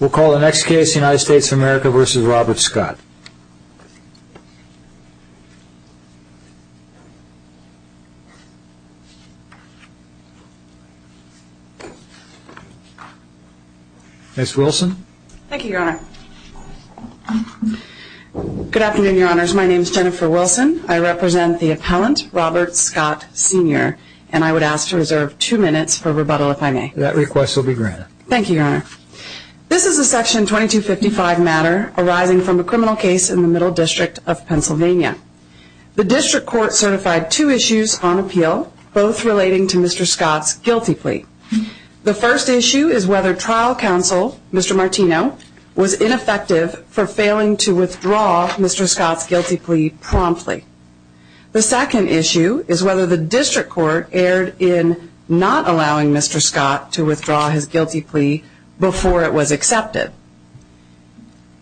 We'll call the next case, United States of America v. Robert Scott. Ms. Wilson. Thank you, Your Honor. Good afternoon, Your Honors. My name is Jennifer Wilson. I represent the appellant, Robert Scott Sr. and I would ask to reserve two minutes for rebuttal, if I may. That request will be granted. Thank you, Your Honor. This is a section 2255 matter arising from a criminal case in the Middle District of Pennsylvania. The district court certified two issues on appeal, both relating to Mr. Scott's guilty plea. The first issue is whether trial counsel, Mr. Martino, was ineffective for failing to withdraw Mr. Scott's guilty plea promptly. The second issue is whether the district court erred in not allowing Mr. Scott to withdraw his guilty plea before it was accepted.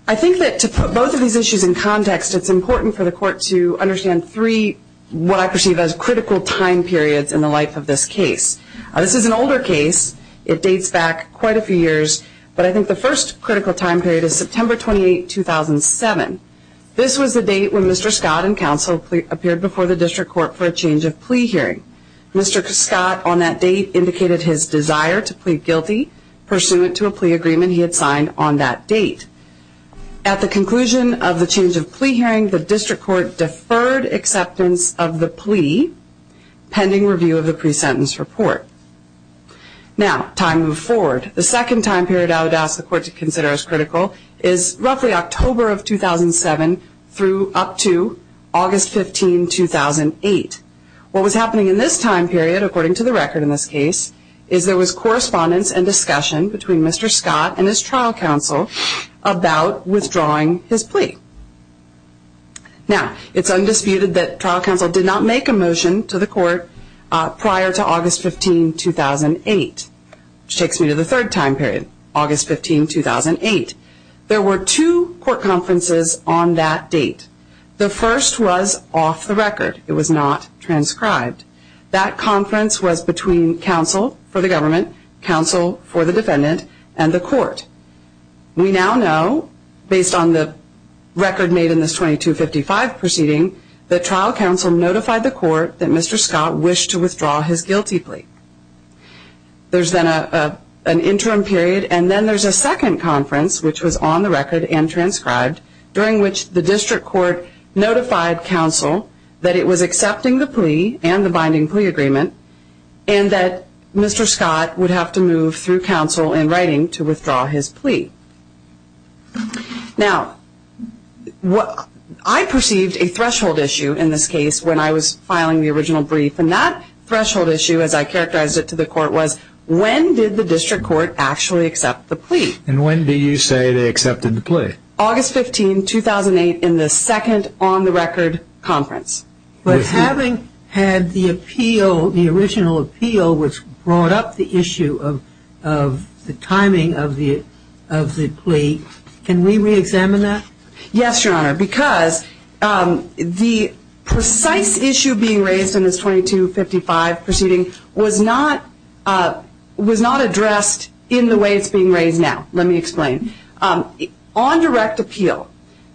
I think that to put both of these issues in context, it's important for the court to understand three, what I perceive as critical time periods in the life of this case. This is an older case. It dates back quite a few years, but I think the first critical time period is September 28, 2007. This was the date when Mr. Scott and counsel appeared before the district court for a change of plea hearing. Mr. Scott, on that date, indicated his desire to plead guilty pursuant to a plea agreement he had signed on that date. At the conclusion of the change of plea hearing, the district court deferred acceptance of the plea pending review of the pre-sentence report. Now, time to move forward. The second time period I would ask the court to consider as critical is roughly October of 2007 through up to August 15, 2008. What was happening in this time period, according to the record in this case, is there was correspondence and discussion between Mr. Scott and his trial counsel about withdrawing his plea. Now, it's undisputed that trial counsel did not make a motion to the court prior to August 15, 2008, which takes me to the third time period, August 15, 2008. There were two court conferences on that date. The first was off the record. It was not transcribed. That conference was between counsel for the government, counsel for the defendant, and the court. We now know, based on the record made in this 2255 proceeding, that trial counsel notified the court that Mr. Scott wished to withdraw his guilty plea. There's then an interim period, and then there's a second conference, which was on the record and transcribed, during which the district court notified counsel that it was accepting the plea and the binding plea agreement and that Mr. Scott would have to move through counsel in writing to withdraw his plea. Now, I perceived a threshold issue in this case when I was filing the original brief, and that threshold issue, as I characterized it to the court, was when did the district court actually accept the plea? And when do you say they accepted the plea? August 15, 2008, in the second on-the-record conference. But having had the appeal, the original appeal, which brought up the issue of the timing of the plea, can we re-examine that? Yes, Your Honor, because the precise issue being raised in this 2255 proceeding was not addressed in the way it's being raised now. Let me explain. On direct appeal,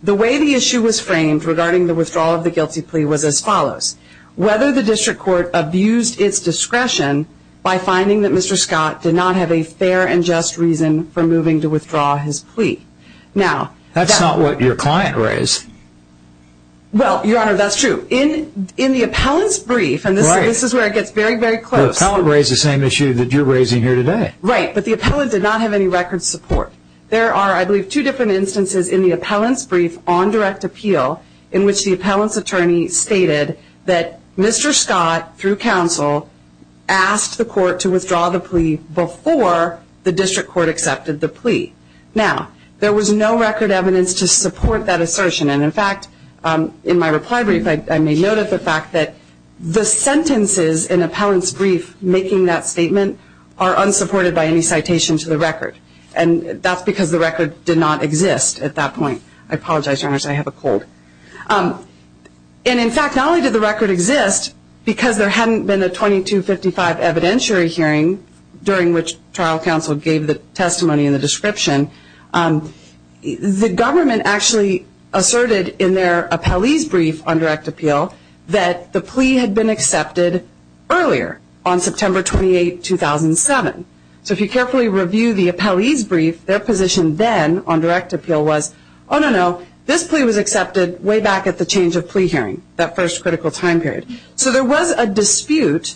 the way the issue was framed regarding the withdrawal of the guilty plea was as follows. Whether the district court abused its discretion by finding that Mr. Scott did not have a fair and just reason for moving to withdraw his plea. That's not what your client raised. Well, Your Honor, that's true. In the appellant's brief, and this is where it gets very, very close. The appellant raised the same issue that you're raising here today. Right, but the appellant did not have any record support. There are, I believe, two different instances in the appellant's brief on direct appeal in which the appellant's attorney stated that Mr. Scott, through counsel, asked the court to withdraw the plea before the district court accepted the plea. Now, there was no record evidence to support that assertion, and in fact, in my reply brief, I made note of the fact that the sentences in appellant's brief making that statement are unsupported by any citation to the record. And that's because the record did not exist at that point. I apologize, Your Honor, I have a cold. And in fact, not only did the record exist, because there hadn't been a 2255 evidentiary hearing during which trial counsel gave the testimony and the description, the government actually asserted in their appellee's brief on direct appeal that the plea had been accepted earlier, on September 28, 2007. So if you carefully review the appellee's brief, their position then on direct appeal was, oh, no, no, this plea was accepted way back at the change of plea hearing, that first critical time period. So there was a dispute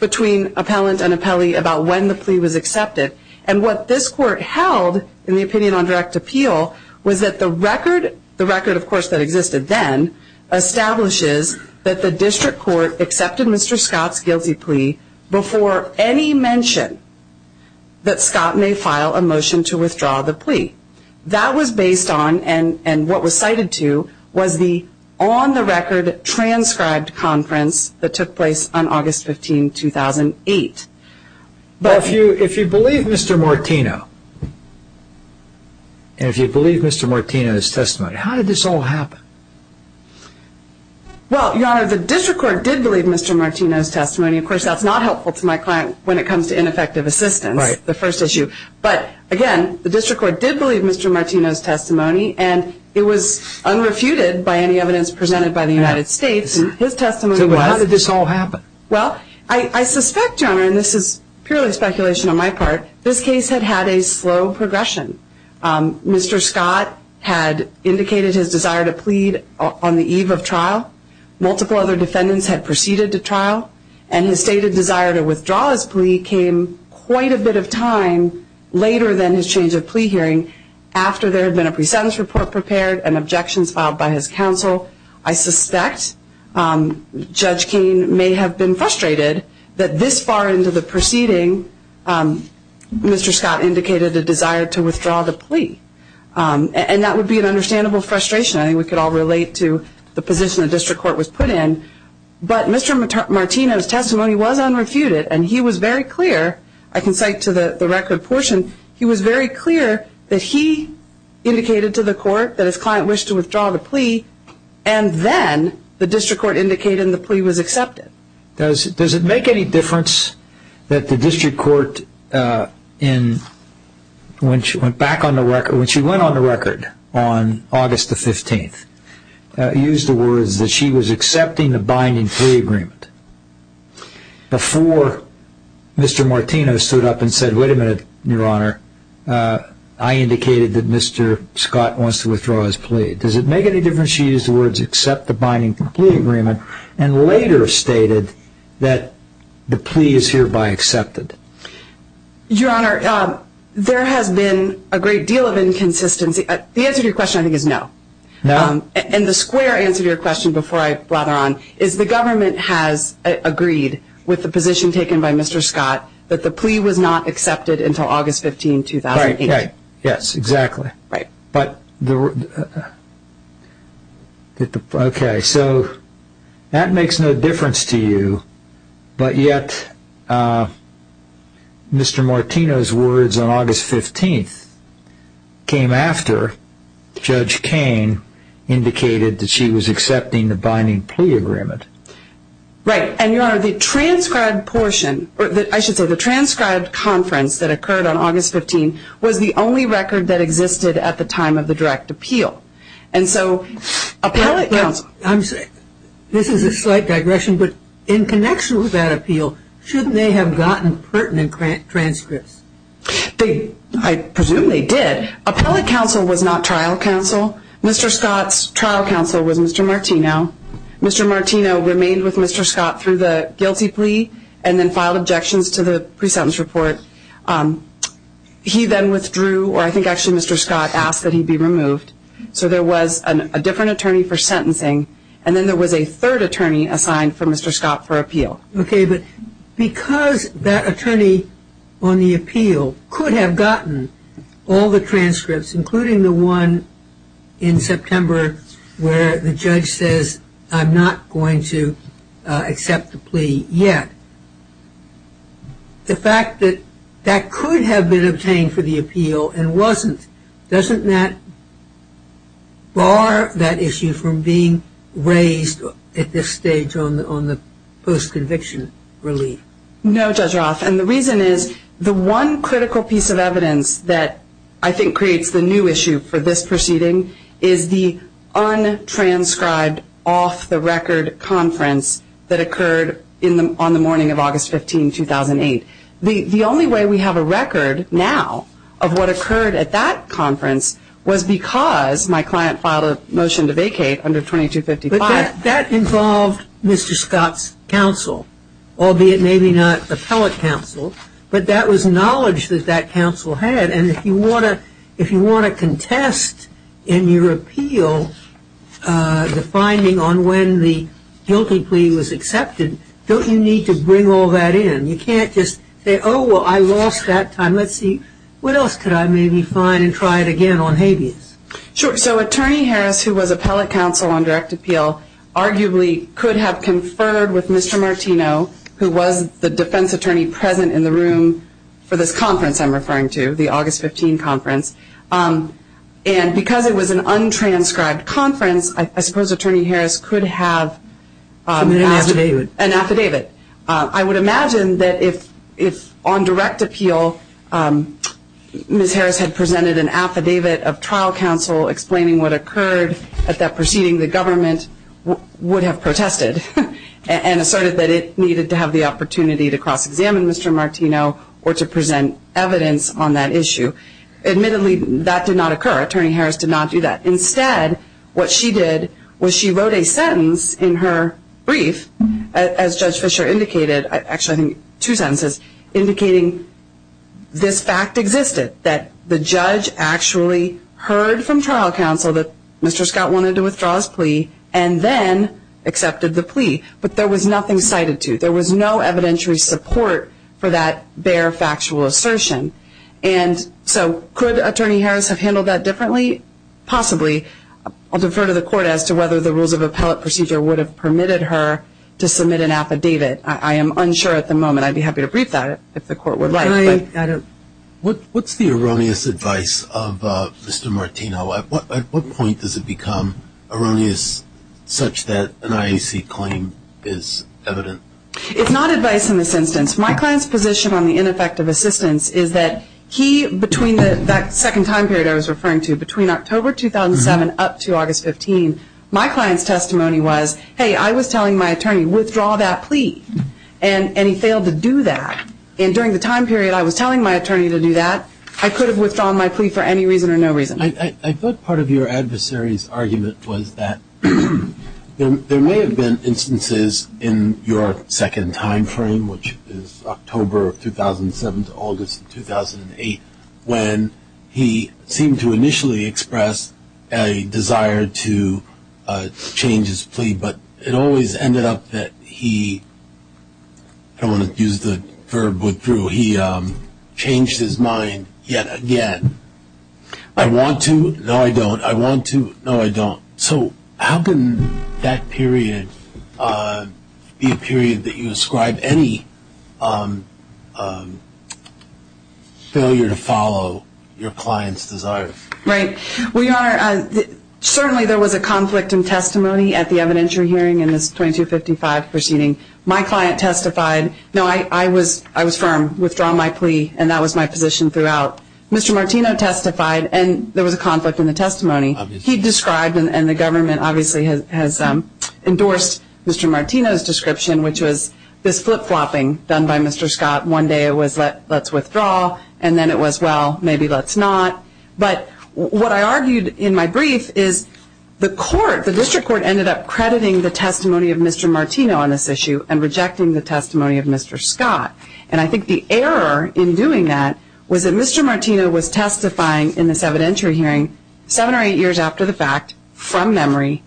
between appellant and appellee about when the plea was accepted. And what this court held in the opinion on direct appeal was that the record, the record, of course, that existed then, establishes that the district court accepted Mr. Scott's guilty plea before any mention that Scott may file a motion to withdraw the plea. That was based on, and what was cited to, was the on-the-record transcribed conference that took place on August 15, 2008. But if you believe Mr. Martino, and if you believe Mr. Martino's testimony, how did this all happen? Well, Your Honor, the district court did believe Mr. Martino's testimony. Of course, that's not helpful to my client when it comes to ineffective assistance, the first issue. But, again, the district court did believe Mr. Martino's testimony, and it was unrefuted by any evidence presented by the United States. But how did this all happen? Well, I suspect, Your Honor, and this is purely speculation on my part, this case had had a slow progression. Mr. Scott had indicated his desire to plead on the eve of trial. Multiple other defendants had proceeded to trial. And his stated desire to withdraw his plea came quite a bit of time later than his change of plea hearing, after there had been a pre-sentence report prepared and objections filed by his counsel. So I suspect Judge Keene may have been frustrated that this far into the proceeding, Mr. Scott indicated a desire to withdraw the plea. And that would be an understandable frustration. I think we could all relate to the position the district court was put in. But Mr. Martino's testimony was unrefuted, and he was very clear, I can cite to the record portion, he was very clear that he indicated to the court that his client wished to withdraw the plea, and then the district court indicated the plea was accepted. Does it make any difference that the district court, when she went back on the record, when she went on the record on August the 15th, used the words that she was accepting the binding plea agreement, before Mr. Martino stood up and said, wait a minute, Your Honor, I indicated that Mr. Scott wants to withdraw his plea. Does it make any difference that she used the words accept the binding plea agreement, and later stated that the plea is hereby accepted? Your Honor, there has been a great deal of inconsistency. The answer to your question, I think, is no. No? And the square answer to your question, before I rather on, is the government has agreed with the position taken by Mr. Scott that the plea was not accepted until August 15, 2008. Yes, exactly. Right. Right. And, Your Honor, the transcribed portion, or I should say the transcribed conference that occurred on August 15, was the only record that existed at the time of the direct appeal. And so appellate counsel... This is a slight digression, but in connection with that appeal, shouldn't they have gotten pertinent transcripts? I presume they did. Appellate counsel was not trial counsel. Mr. Scott's trial counsel was Mr. Martino. Mr. Martino remained with Mr. Scott through the guilty plea and then filed objections to the pre-sentence report. He then withdrew, or I think actually Mr. Scott asked that he be removed. So there was a different attorney for sentencing, and then there was a third attorney assigned for Mr. Scott for appeal. Okay, but because that attorney on the appeal could have gotten all the transcripts, including the one in September where the judge says, I'm not going to accept the plea yet, the fact that that could have been obtained for the appeal and wasn't, doesn't that bar that issue from being raised at this stage on the post-conviction relief? No, Judge Roth, and the reason is the one critical piece of evidence that I think creates the new issue for this proceeding is the untranscribed off-the-record conference that occurred on the morning of August 15, 2008. The only way we have a record now of what occurred at that conference was because my client filed a motion to vacate under 2255. But that involved Mr. Scott's counsel, albeit maybe not appellate counsel, but that was knowledge that that counsel had, and if you want to contest in your appeal the finding on when the guilty plea was accepted, don't you need to bring all that in? You can't just say, oh, well, I lost that time. Let's see, what else could I maybe find and try it again on habeas? Sure. So Attorney Harris, who was appellate counsel on direct appeal, arguably could have conferred with Mr. Martino, who was the defense attorney present in the room for this conference I'm referring to, the August 15 conference, and because it was an untranscribed conference, I suppose Attorney Harris could have an affidavit. I would imagine that if on direct appeal Ms. Harris had presented an affidavit of trial counsel explaining what occurred at that proceeding, the government would have protested and asserted that it needed to have the opportunity to cross-examine Mr. Martino or to present evidence on that issue. Admittedly, that did not occur. Attorney Harris did not do that. Instead, what she did was she wrote a sentence in her brief, as Judge Fischer indicated, actually I think two sentences, indicating this fact existed, that the judge actually heard from trial counsel that Mr. Scott wanted to withdraw his plea and then accepted the plea. But there was nothing cited to. There was no evidentiary support for that bare factual assertion. So could Attorney Harris have handled that differently? Possibly. I'll defer to the court as to whether the rules of appellate procedure would have permitted her to submit an affidavit. I am unsure at the moment. I'd be happy to brief that if the court would like. What's the erroneous advice of Mr. Martino? At what point does it become erroneous such that an IAC claim is evident? It's not advice in this instance. My client's position on the ineffective assistance is that he, between that second time period I was referring to, between October 2007 up to August 15, my client's testimony was, hey, I was telling my attorney, withdraw that plea. And he failed to do that. And during the time period I was telling my attorney to do that, I could have withdrawn my plea for any reason or no reason. I thought part of your adversary's argument was that there may have been instances in your second time frame, which is October 2007 to August 2008, when he seemed to initially express a desire to change his plea, but it always ended up that he, I don't want to use the verb withdraw, he changed his mind yet again. I want to, no I don't. I want to, no I don't. So how can that period be a period that you ascribe any failure to follow your client's desire? Right. Well, Your Honor, certainly there was a conflict in testimony at the evidentiary hearing in this 2255 proceeding. My client testified, no, I was firm, withdraw my plea, and that was my position throughout. Mr. Martino testified, and there was a conflict in the testimony. He described, and the government obviously has endorsed Mr. Martino's description, which was this flip-flopping done by Mr. Scott. One day it was let's withdraw, and then it was, well, maybe let's not. But what I argued in my brief is the court, the district court, ended up crediting the testimony of Mr. Martino on this issue and rejecting the testimony of Mr. Scott. And I think the error in doing that was that Mr. Martino was testifying in this evidentiary hearing seven or eight years after the fact from memory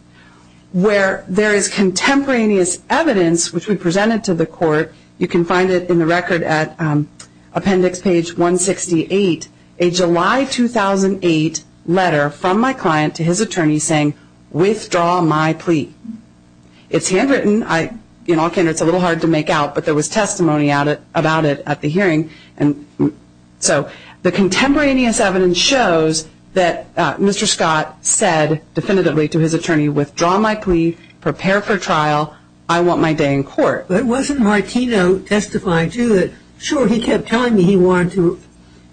where there is contemporaneous evidence, which we presented to the court. You can find it in the record at Appendix Page 168, a July 2008 letter from my client to his attorney saying, withdraw my plea. It's handwritten. You know, it's a little hard to make out, but there was testimony about it at the hearing. So the contemporaneous evidence shows that Mr. Scott said definitively to his attorney, withdraw my plea, prepare for trial, I want my day in court. But wasn't Martino testifying too? Sure, he kept telling me he wanted to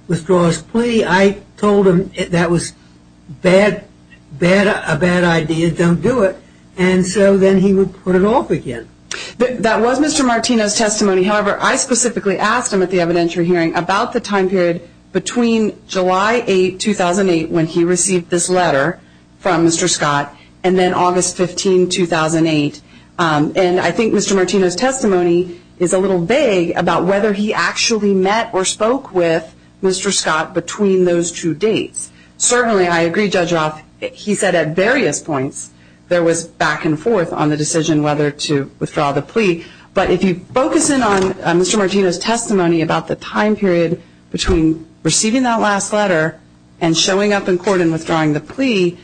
withdraw his plea. I told him that was a bad idea, don't do it. And so then he would put it off again. That was Mr. Martino's testimony. However, I specifically asked him at the evidentiary hearing about the time period between July 8, 2008, when he received this letter from Mr. Scott, and then August 15, 2008. And I think Mr. Martino's testimony is a little vague about whether he actually met or spoke with Mr. Scott between those two dates. Certainly, I agree, Judge Roth, he said at various points there was back and forth on the decision whether to withdraw the plea. But if you focus in on Mr. Martino's testimony about the time period between receiving that last letter and showing up in court and withdrawing the plea,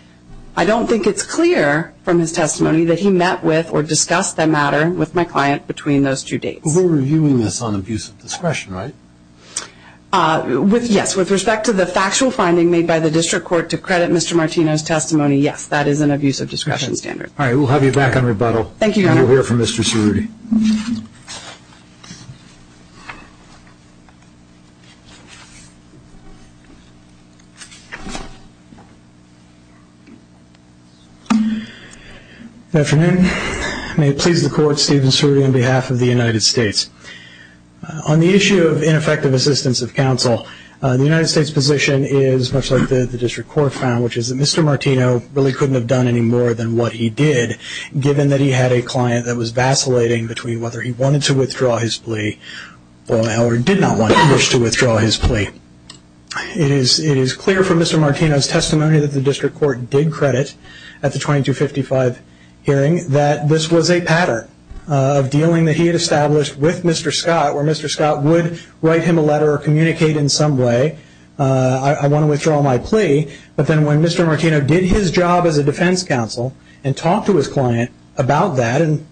I don't think it's clear from his testimony that he met with or discussed that matter with my client between those two dates. We're reviewing this on abuse of discretion, right? Yes, with respect to the factual finding made by the district court to credit Mr. Martino's testimony, yes, that is an abuse of discretion standard. All right, we'll have you back on rebuttal. Thank you, Your Honor. We'll hear from Mr. Cerruti. Good afternoon. May it please the Court, Stephen Cerruti on behalf of the United States. On the issue of ineffective assistance of counsel, the United States' position is much like the district court found, which is that Mr. Martino really couldn't have done any more than what he did, given that he had a client that was vacillating between whether he wanted to withdraw his plea or did not want to withdraw his plea. It is clear from Mr. Martino's testimony that the district court did credit at the 2255 hearing that this was a pattern of dealing that he had established with Mr. Scott, where Mr. Scott would write him a letter or communicate in some way, I want to withdraw my plea, but then when Mr. Martino did his job as a defense counsel and talked to his client about that and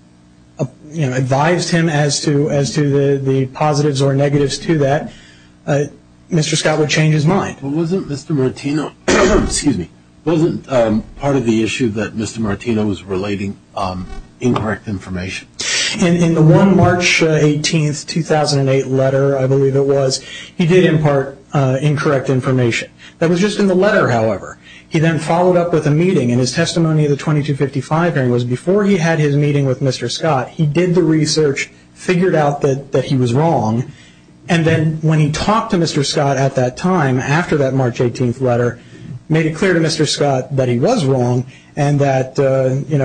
advised him as to the positives or negatives to that, Mr. Scott would change his mind. Wasn't part of the issue that Mr. Martino was relating incorrect information? In the one March 18, 2008 letter, I believe it was, he did impart incorrect information. That was just in the letter, however. He then followed up with a meeting, and his testimony of the 2255 hearing was before he had his meeting with Mr. Scott, he did the research, figured out that he was wrong, and then when he talked to Mr. Scott at that time after that March 18 letter, made it clear to Mr. Scott that he was wrong and that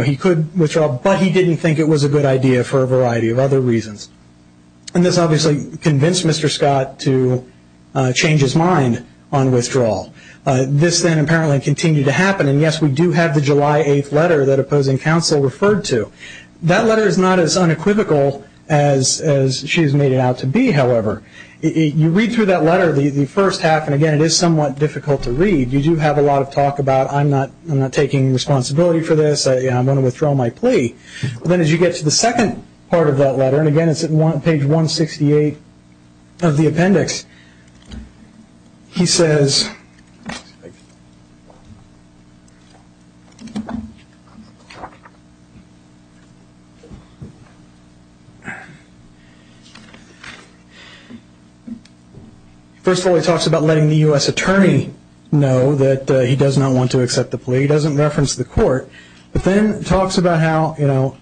he could withdraw, but he didn't think it was a good idea for a variety of other reasons. This obviously convinced Mr. Scott to change his mind on withdrawal. This then apparently continued to happen, and yes, we do have the July 8 letter that opposing counsel referred to. That letter is not as unequivocal as she has made it out to be, however. You read through that letter, the first half, and again, it is somewhat difficult to read. You do have a lot of talk about, I'm not taking responsibility for this, I'm going to withdraw my plea. But then as you get to the second part of that letter, and again, it's on page 168 of the appendix, he says, first of all he talks about letting the U.S. attorney know that he does not want to accept the plea, he doesn't reference the court, but then talks about how, you know,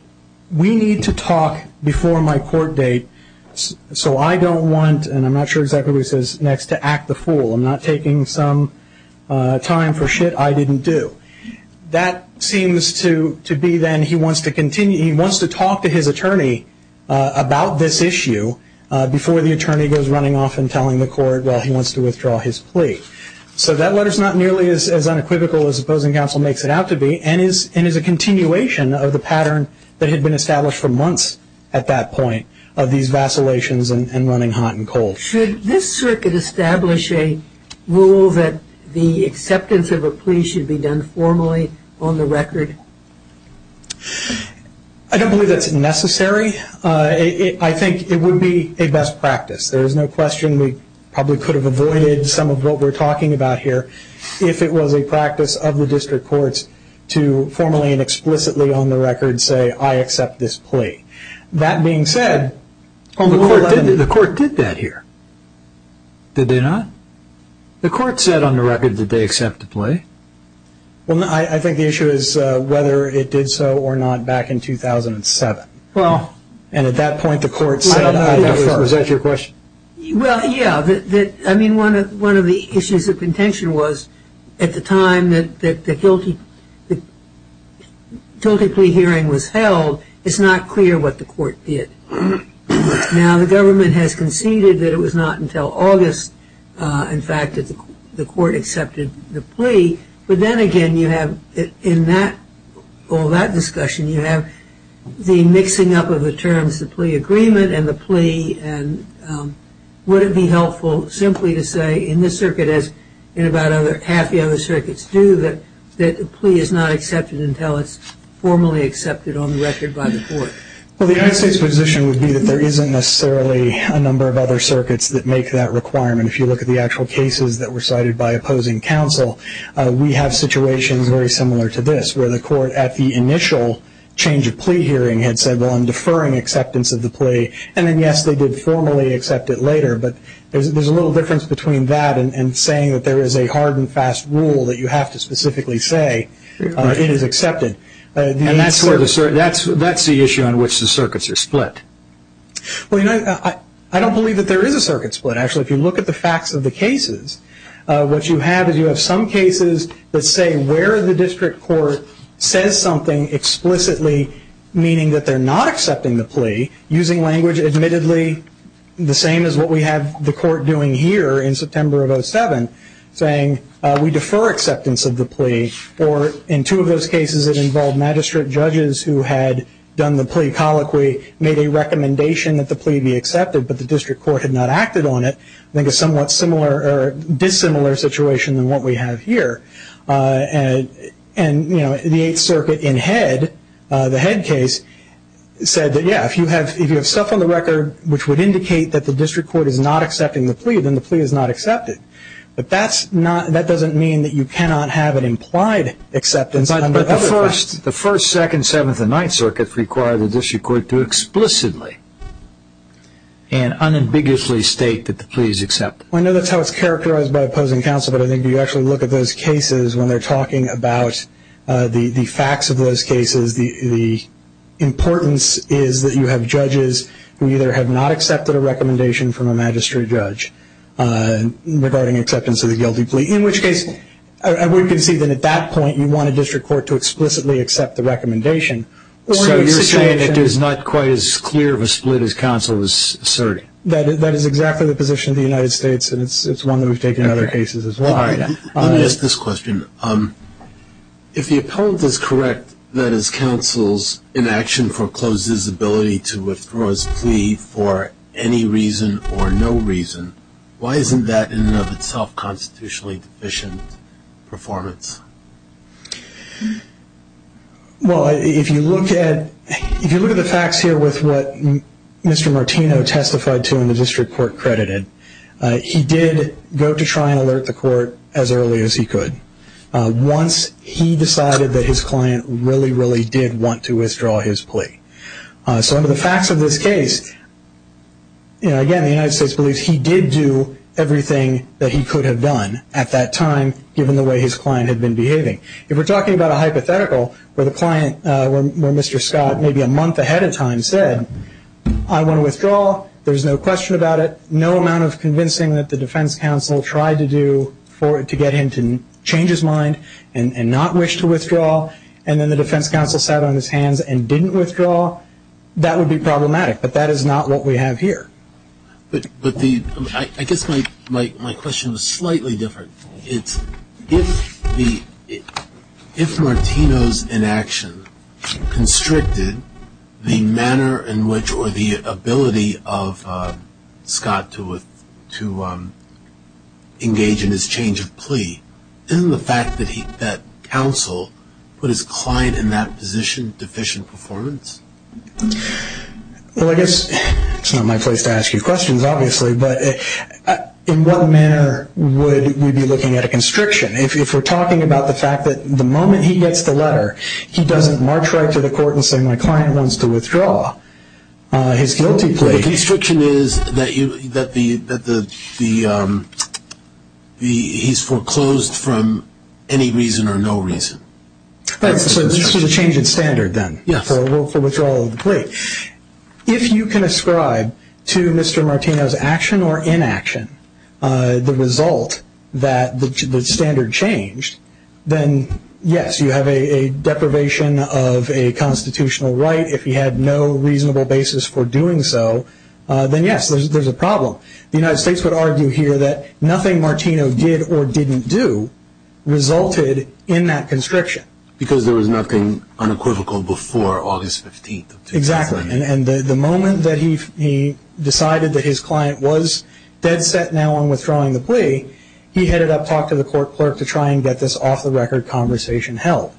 we need to talk before my court date, so I don't want, and I'm not sure exactly what he says next, to act the fool. I'm not taking some time for shit I didn't do. That seems to be then, he wants to continue, he wants to talk to his attorney about this issue before the attorney goes running off and telling the court, well, he wants to withdraw his plea. So that letter is not nearly as unequivocal as the opposing counsel makes it out to be, and is a continuation of the pattern that had been established for months at that point, of these vacillations and running hot and cold. Should this circuit establish a rule that the acceptance of a plea should be done formally on the record? I don't believe that's necessary. I think it would be a best practice. There's no question we probably could have avoided some of what we're talking about here if it was a practice of the district courts to formally and explicitly on the record say, I accept this plea. That being said, the court did that here, did they not? The court said on the record that they accept the plea. Well, I think the issue is whether it did so or not back in 2007. And at that point the court said, I defer. Was that your question? Well, yeah. I mean, one of the issues of contention was at the time that the Tilted Plea hearing was held, it's not clear what the court did. Now, the government has conceded that it was not until August, in fact, that the court accepted the plea. But then again, you have in all that discussion, you have the mixing up of the terms, the plea agreement and the plea, and would it be helpful simply to say in this circuit, as in about half the other circuits do, that the plea is not accepted until it's formally accepted on the record by the court? Well, the United States position would be that there isn't necessarily a number of other circuits that make that requirement. If you look at the actual cases that were cited by opposing counsel, we have situations very similar to this, where the court at the initial change of plea hearing had said, well, I'm deferring acceptance of the plea. And then, yes, they did formally accept it later. But there's a little difference between that and saying that there is a hard and fast rule that you have to specifically say it is accepted. And that's the issue on which the circuits are split. Well, you know, I don't believe that there is a circuit split. Actually, if you look at the facts of the cases, what you have is you have some cases that say where the district court says something explicitly, meaning that they're not accepting the plea, using language admittedly the same as what we have the court doing here in September of 2007, saying we defer acceptance of the plea. Or in two of those cases, it involved magistrate judges who had done the plea colloquy, made a recommendation that the plea be accepted, but the district court had not acted on it, I think a somewhat similar or dissimilar situation than what we have here. And, you know, the Eighth Circuit in head, the head case, said that, yeah, if you have stuff on the record which would indicate that the district court is not accepting the plea, then the plea is not accepted. But that doesn't mean that you cannot have an implied acceptance under other courts. The first, second, seventh, and ninth circuits require the district court to explicitly and unambiguously state that the plea is accepted. I know that's how it's characterized by opposing counsel, but I think if you actually look at those cases when they're talking about the facts of those cases, the importance is that you have judges who either have not accepted a recommendation from a magistrate judge regarding acceptance of the guilty plea. In which case, we can see that at that point you want a district court to explicitly accept the recommendation. So you're saying it is not quite as clear of a split as counsel is asserting? That is exactly the position of the United States, and it's one that we've taken in other cases as well. Let me ask this question. If the appellant is correct that his counsel's inaction forecloses his ability to withdraw his plea for any reason or no reason, why isn't that in and of itself constitutionally deficient performance? Well, if you look at the facts here with what Mr. Martino testified to and the district court credited, he did go to try and alert the court as early as he could once he decided that his client really, So under the facts of this case, again, the United States believes he did do everything that he could have done at that time, given the way his client had been behaving. If we're talking about a hypothetical where Mr. Scott maybe a month ahead of time said, I want to withdraw, there's no question about it, no amount of convincing that the defense counsel tried to do to get him to change his mind and not wish to withdraw, and then the defense counsel sat on his hands and didn't withdraw, that would be problematic. But that is not what we have here. But I guess my question was slightly different. If Martino's inaction constricted the manner in which or the ability of Scott to engage in his change of plea, isn't the fact that counsel put his client in that position deficient performance? Well, I guess it's not my place to ask you questions, obviously, but in what manner would we be looking at a constriction? If we're talking about the fact that the moment he gets the letter, he doesn't march right to the court and say, my client wants to withdraw his guilty plea. The constriction is that he's foreclosed from any reason or no reason. So this is a change in standard, then, for withdrawal of the plea. If you can ascribe to Mr. Martino's action or inaction the result that the standard changed, then yes, you have a deprivation of a constitutional right. If he had no reasonable basis for doing so, then yes, there's a problem. The United States would argue here that nothing Martino did or didn't do resulted in that constriction. Because there was nothing unequivocal before August 15th. Exactly. And the moment that he decided that his client was dead set now on withdrawing the plea, he headed up, talked to the court clerk to try and get this off-the-record conversation held.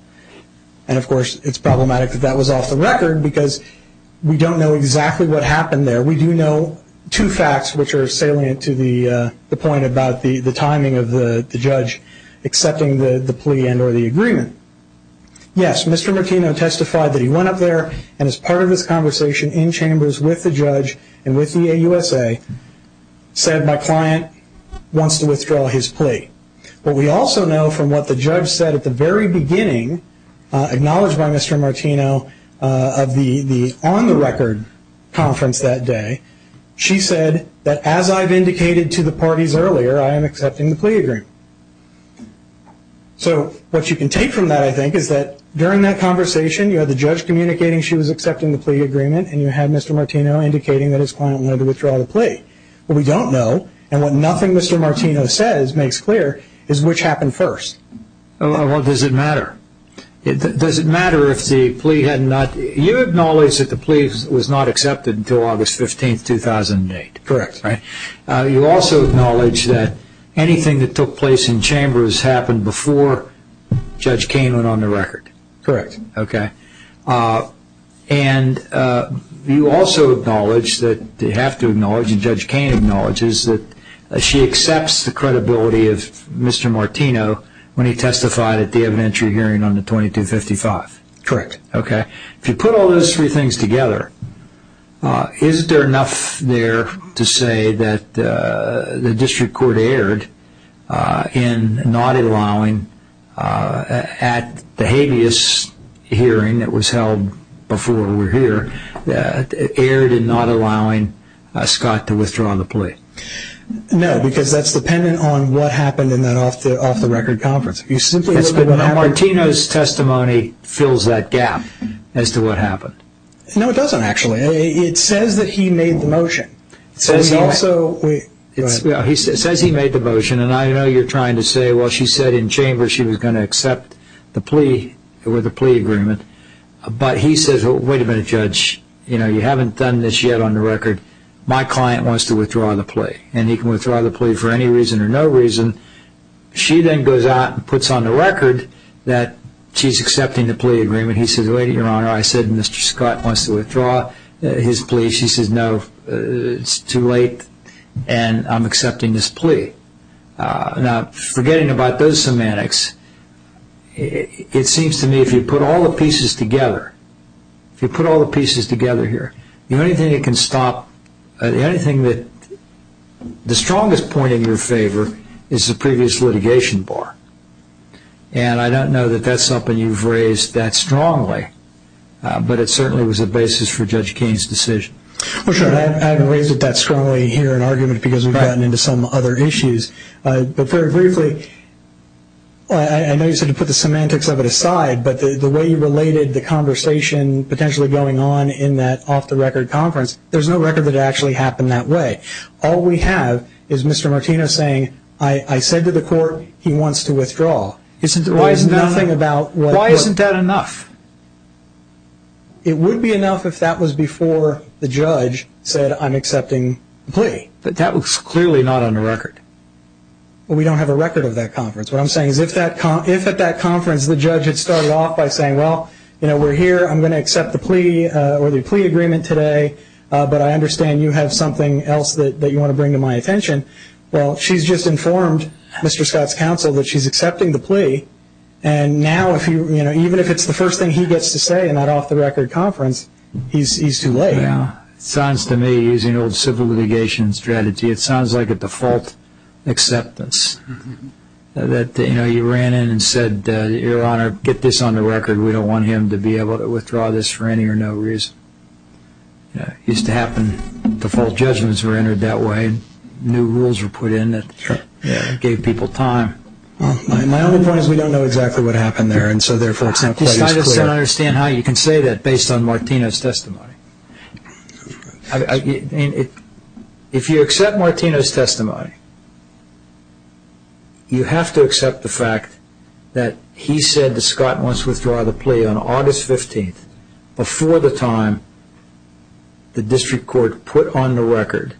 And, of course, it's problematic that that was off-the-record, because we don't know exactly what happened there. We do know two facts which are salient to the point about the timing of the judge accepting the plea and or the agreement. Yes, Mr. Martino testified that he went up there and as part of his conversation in chambers with the judge and with the AUSA said my client wants to withdraw his plea. But we also know from what the judge said at the very beginning, acknowledged by Mr. Martino of the on-the-record conference that day, she said that as I've indicated to the parties earlier, I am accepting the plea agreement. So what you can take from that, I think, is that during that conversation, you had the judge communicating she was accepting the plea agreement and you had Mr. Martino indicating that his client wanted to withdraw the plea. What we don't know, and what nothing Mr. Martino says makes clear, is which happened first. Well, does it matter? Does it matter if the plea had not, you acknowledge that the plea was not accepted until August 15, 2008. Correct. You also acknowledge that anything that took place in chambers happened before Judge Kaine went on the record. Correct. Okay. And you also acknowledge that you have to acknowledge, and Judge Kaine acknowledges, that she accepts the credibility of Mr. Martino when he testified at the evidentiary hearing on the 2255. Correct. Okay. If you put all those three things together, Is there enough there to say that the district court erred in not allowing, at the habeas hearing that was held before we were here, that it erred in not allowing Scott to withdraw the plea? No, because that's dependent on what happened in that off-the-record conference. If you simply look at what happened... But Mr. Martino's testimony fills that gap as to what happened. No, it doesn't, actually. It says that he made the motion. It says he made the motion, and I know you're trying to say, well, she said in chambers she was going to accept the plea or the plea agreement, but he says, wait a minute, Judge, you haven't done this yet on the record. My client wants to withdraw the plea, and he can withdraw the plea for any reason or no reason. She then goes out and puts on the record that she's accepting the plea agreement. He says, wait a minute, Your Honor, I said Mr. Scott wants to withdraw his plea. She says, no, it's too late, and I'm accepting this plea. Now, forgetting about those semantics, it seems to me if you put all the pieces together, if you put all the pieces together here, the only thing that can stop, the only thing that, the strongest point in your favor is the previous litigation bar, and I don't know that that's something you've raised that strongly, but it certainly was a basis for Judge Keene's decision. Well, Your Honor, I haven't raised it that strongly here in argument because we've gotten into some other issues, but very briefly, I know you said to put the semantics of it aside, but the way you related the conversation potentially going on in that off-the-record conference, there's no record that it actually happened that way. All we have is Mr. Martino saying, I said to the court he wants to withdraw. Why isn't that enough? It would be enough if that was before the judge said I'm accepting the plea. But that was clearly not on the record. Well, we don't have a record of that conference. What I'm saying is if at that conference the judge had started off by saying, well, we're here, I'm going to accept the plea or the plea agreement today, but I understand you have something else that you want to bring to my attention. Well, she's just informed Mr. Scott's counsel that she's accepting the plea, and now even if it's the first thing he gets to say in that off-the-record conference, he's too late. It sounds to me, using old civil litigation strategy, it sounds like a default acceptance. You ran in and said, Your Honor, get this on the record. We don't want him to be able to withdraw this for any or no reason. It used to happen default judgments were entered that way. New rules were put in that gave people time. My only point is we don't know exactly what happened there, and so therefore it's not quite as clear. I just don't understand how you can say that based on Martino's testimony. If you accept Martino's testimony, you have to accept the fact that he said to Scott once, withdraw the plea on August 15th before the time the district court put on the record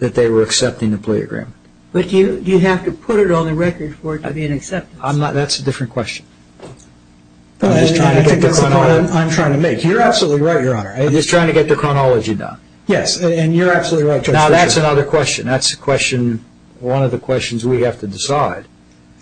that they were accepting the plea agreement. But you have to put it on the record for it to be an acceptance. That's a different question. I think that's what I'm trying to make. You're absolutely right, Your Honor. I'm just trying to get the chronology done. Yes, and you're absolutely right. Now that's another question. That's one of the questions we have to decide.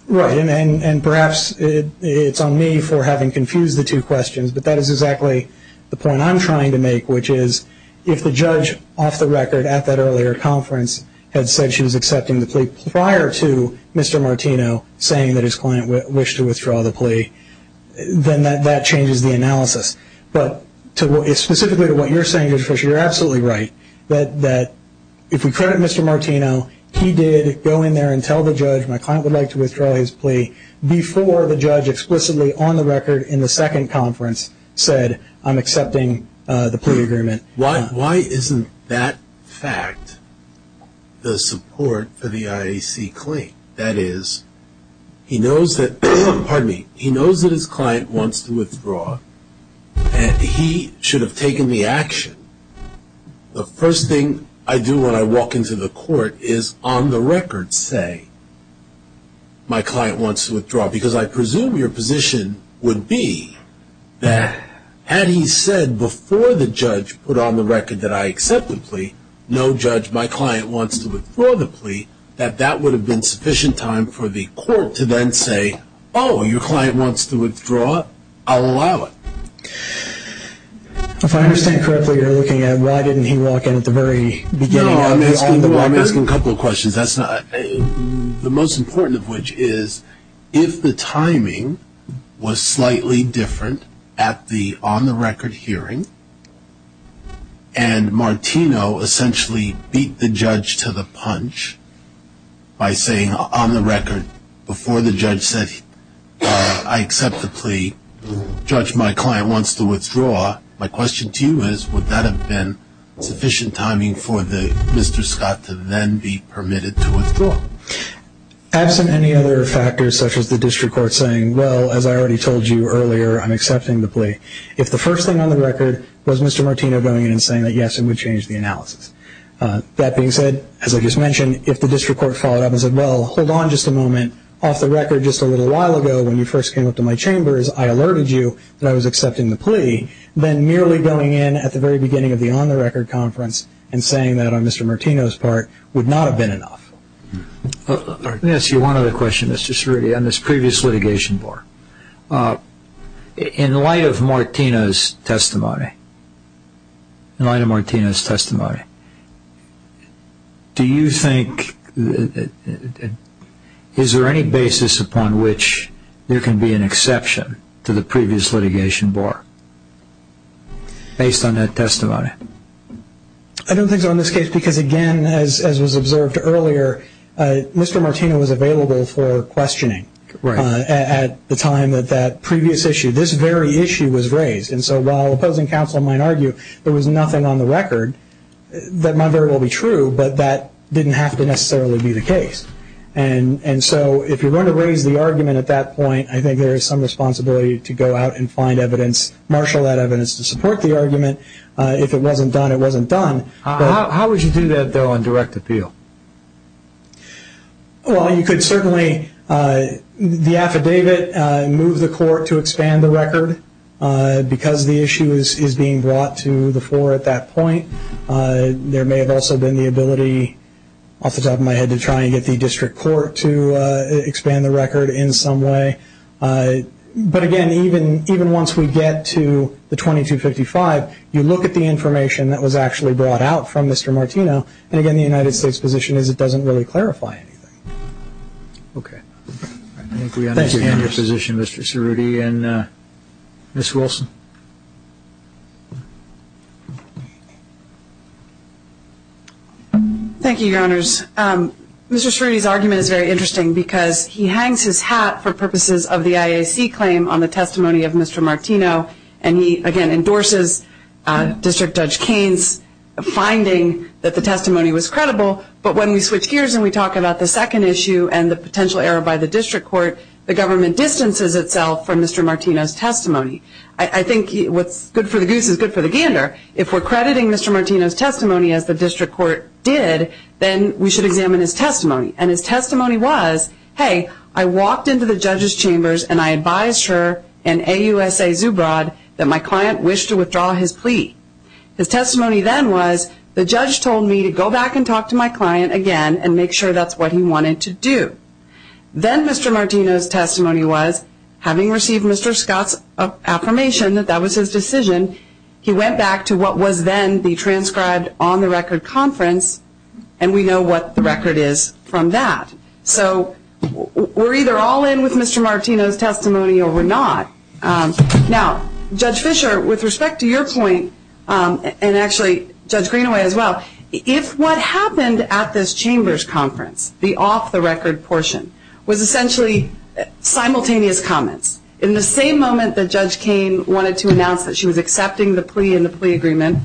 Right, and perhaps it's on me for having confused the two questions, but that is exactly the point I'm trying to make, which is if the judge off the record at that earlier conference had said she was accepting the plea prior to Mr. Martino saying that his client wished to withdraw the plea, then that changes the analysis. But specifically to what you're saying, Mr. Fisher, you're absolutely right, that if we credit Mr. Martino, he did go in there and tell the judge, my client would like to withdraw his plea, before the judge explicitly on the record in the second conference said, I'm accepting the plea agreement. Why isn't that fact the support for the IAC claim? That is, he knows that his client wants to withdraw, and he should have taken the action. The first thing I do when I walk into the court is on the record say, my client wants to withdraw, because I presume your position would be that had he said before the judge put on the record that I accept the plea, no judge, my client wants to withdraw the plea, that that would have been sufficient time for the court to then say, oh, your client wants to withdraw, I'll allow it. If I understand correctly, you're looking at why didn't he walk in at the very beginning? No, I'm asking a couple of questions. The most important of which is, if the timing was slightly different at the on the record hearing, and Martino essentially beat the judge to the punch by saying on the record, before the judge said, I accept the plea, judge, my client wants to withdraw, my question to you is, would that have been sufficient timing for Mr. Scott to then be permitted to withdraw? Absent any other factors such as the district court saying, well, as I already told you earlier, I'm accepting the plea. If the first thing on the record was Mr. Martino going in and saying that, yes, it would change the analysis. That being said, as I just mentioned, if the district court followed up and said, well, hold on just a moment, off the record just a little while ago when you first came up to my chambers, I alerted you that I was accepting the plea, then merely going in at the very beginning of the on the record conference and saying that on Mr. Martino's part would not have been enough. Let me ask you one other question, Mr. Cerruti, on this previous litigation bar. In light of Martino's testimony, in light of Martino's testimony, do you think, is there any basis upon which there can be an exception to the previous litigation bar based on that testimony? I don't think so in this case because, again, as was observed earlier, Mr. Martino was available for questioning at the time that that previous issue, this very issue, was raised. And so while opposing counsel might argue there was nothing on the record that might very well be true, but that didn't have to necessarily be the case. And so if you're going to raise the argument at that point, I think there is some responsibility to go out and find evidence, marshal that evidence to support the argument. If it wasn't done, it wasn't done. How would you do that, though, on direct appeal? Well, you could certainly, the affidavit, move the court to expand the record because the issue is being brought to the floor at that point. There may have also been the ability, off the top of my head, to try and get the district court to expand the record in some way. But, again, even once we get to the 2255, you look at the information that was actually brought out from Mr. Martino, and, again, the United States position is it doesn't really clarify anything. Okay. I think we understand your position, Mr. Cerruti. And Ms. Wilson. Thank you, Your Honors. Mr. Cerruti's argument is very interesting because he hangs his hat for purposes of the IAC claim on the testimony of Mr. Martino, and he, again, endorses District Judge Kane's finding that the testimony was credible. But when we switch gears and we talk about the second issue and the potential error by the district court, the government distances itself from Mr. Martino's testimony. I think what's good for the goose is good for the gander. If we're crediting Mr. Martino's testimony, as the district court did, then we should examine his testimony. And his testimony was, hey, I walked into the judge's chambers and I advised her and AUSA Zubrod that my client wished to withdraw his plea. His testimony then was, the judge told me to go back and talk to my client again and make sure that's what he wanted to do. Then Mr. Martino's testimony was, having received Mr. Scott's affirmation that that was his decision, he went back to what was then the transcribed on-the-record conference, and we know what the record is from that. So we're either all in with Mr. Martino's testimony or we're not. Now, Judge Fischer, with respect to your point, and actually Judge Greenaway as well, if what happened at this chambers conference, the off-the-record portion, was essentially simultaneous comments, in the same moment that Judge Kain wanted to announce that she was accepting the plea in the plea agreement,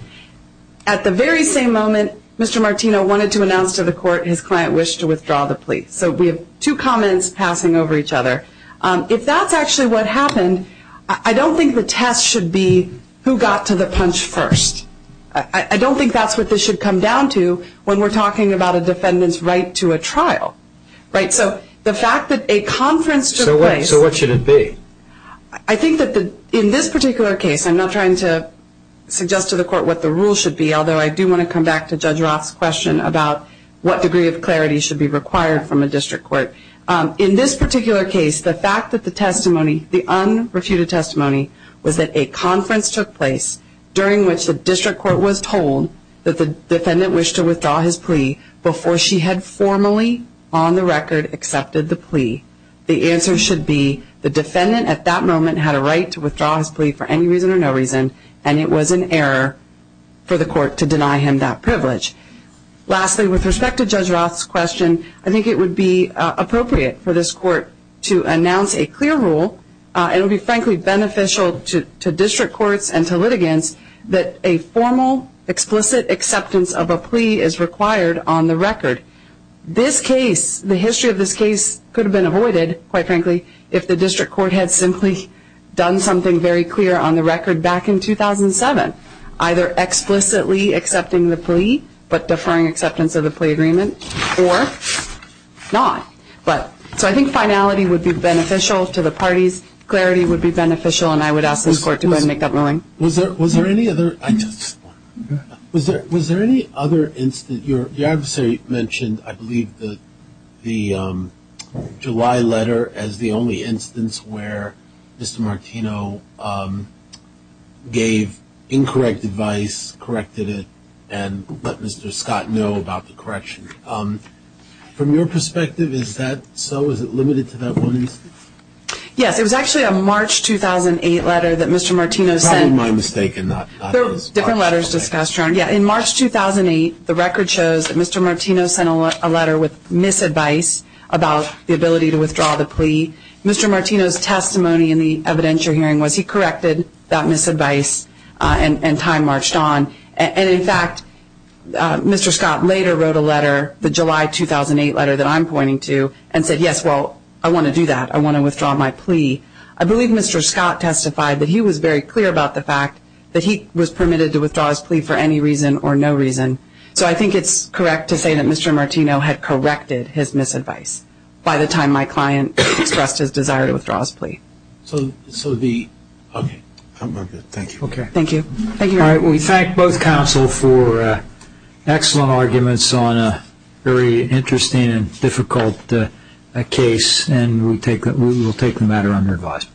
at the very same moment Mr. Martino wanted to announce to the court his client wished to withdraw the plea. So we have two comments passing over each other. If that's actually what happened, I don't think the test should be who got to the punch first. I don't think that's what this should come down to when we're talking about a defendant's right to a trial. So the fact that a conference took place... So what should it be? I think that in this particular case, I'm not trying to suggest to the court what the rules should be, although I do want to come back to Judge Roth's question about what degree of clarity should be required from a district court. In this particular case, the fact that the testimony, the unrefuted testimony, was that a conference took place during which the district court was told that the defendant wished to withdraw his plea before she had formally, on the record, accepted the plea. The answer should be the defendant at that moment had a right to withdraw his plea for any reason or no reason, and it was an error for the court to deny him that privilege. Lastly, with respect to Judge Roth's question, I think it would be appropriate for this court to announce a clear rule, and it would be, frankly, beneficial to district courts and to litigants, that a formal, explicit acceptance of a plea is required on the record. This case, the history of this case, could have been avoided, quite frankly, if the district court had simply done something very clear on the record back in 2007, either explicitly accepting the plea but deferring acceptance of the plea agreement, or not. So I think finality would be beneficial to the parties, clarity would be beneficial, and I would ask this court to go ahead and make that ruling. Was there any other instance? Your adversary mentioned, I believe, the July letter as the only instance where Mr. Martino gave incorrect advice, corrected it, and let Mr. Scott know about the correction. From your perspective, is that so? Is it limited to that one instance? Yes, it was actually a March 2008 letter that Mr. Martino sent. That was my mistake and not his. Different letters discussed. In March 2008, the record shows that Mr. Martino sent a letter with misadvice about the ability to withdraw the plea. Mr. Martino's testimony in the evidentiary hearing was he corrected that misadvice and time marched on. And, in fact, Mr. Scott later wrote a letter, the July 2008 letter that I'm pointing to, and said, yes, well, I want to do that. I want to withdraw my plea. I believe Mr. Scott testified that he was very clear about the fact that he was permitted to withdraw his plea for any reason or no reason. So I think it's correct to say that Mr. Martino had corrected his misadvice by the time my client expressed his desire to withdraw his plea. Thank you. Thank you. All right. We thank both counsel for excellent arguments on a very interesting and difficult case, and we will take the matter under advisement. Thank you.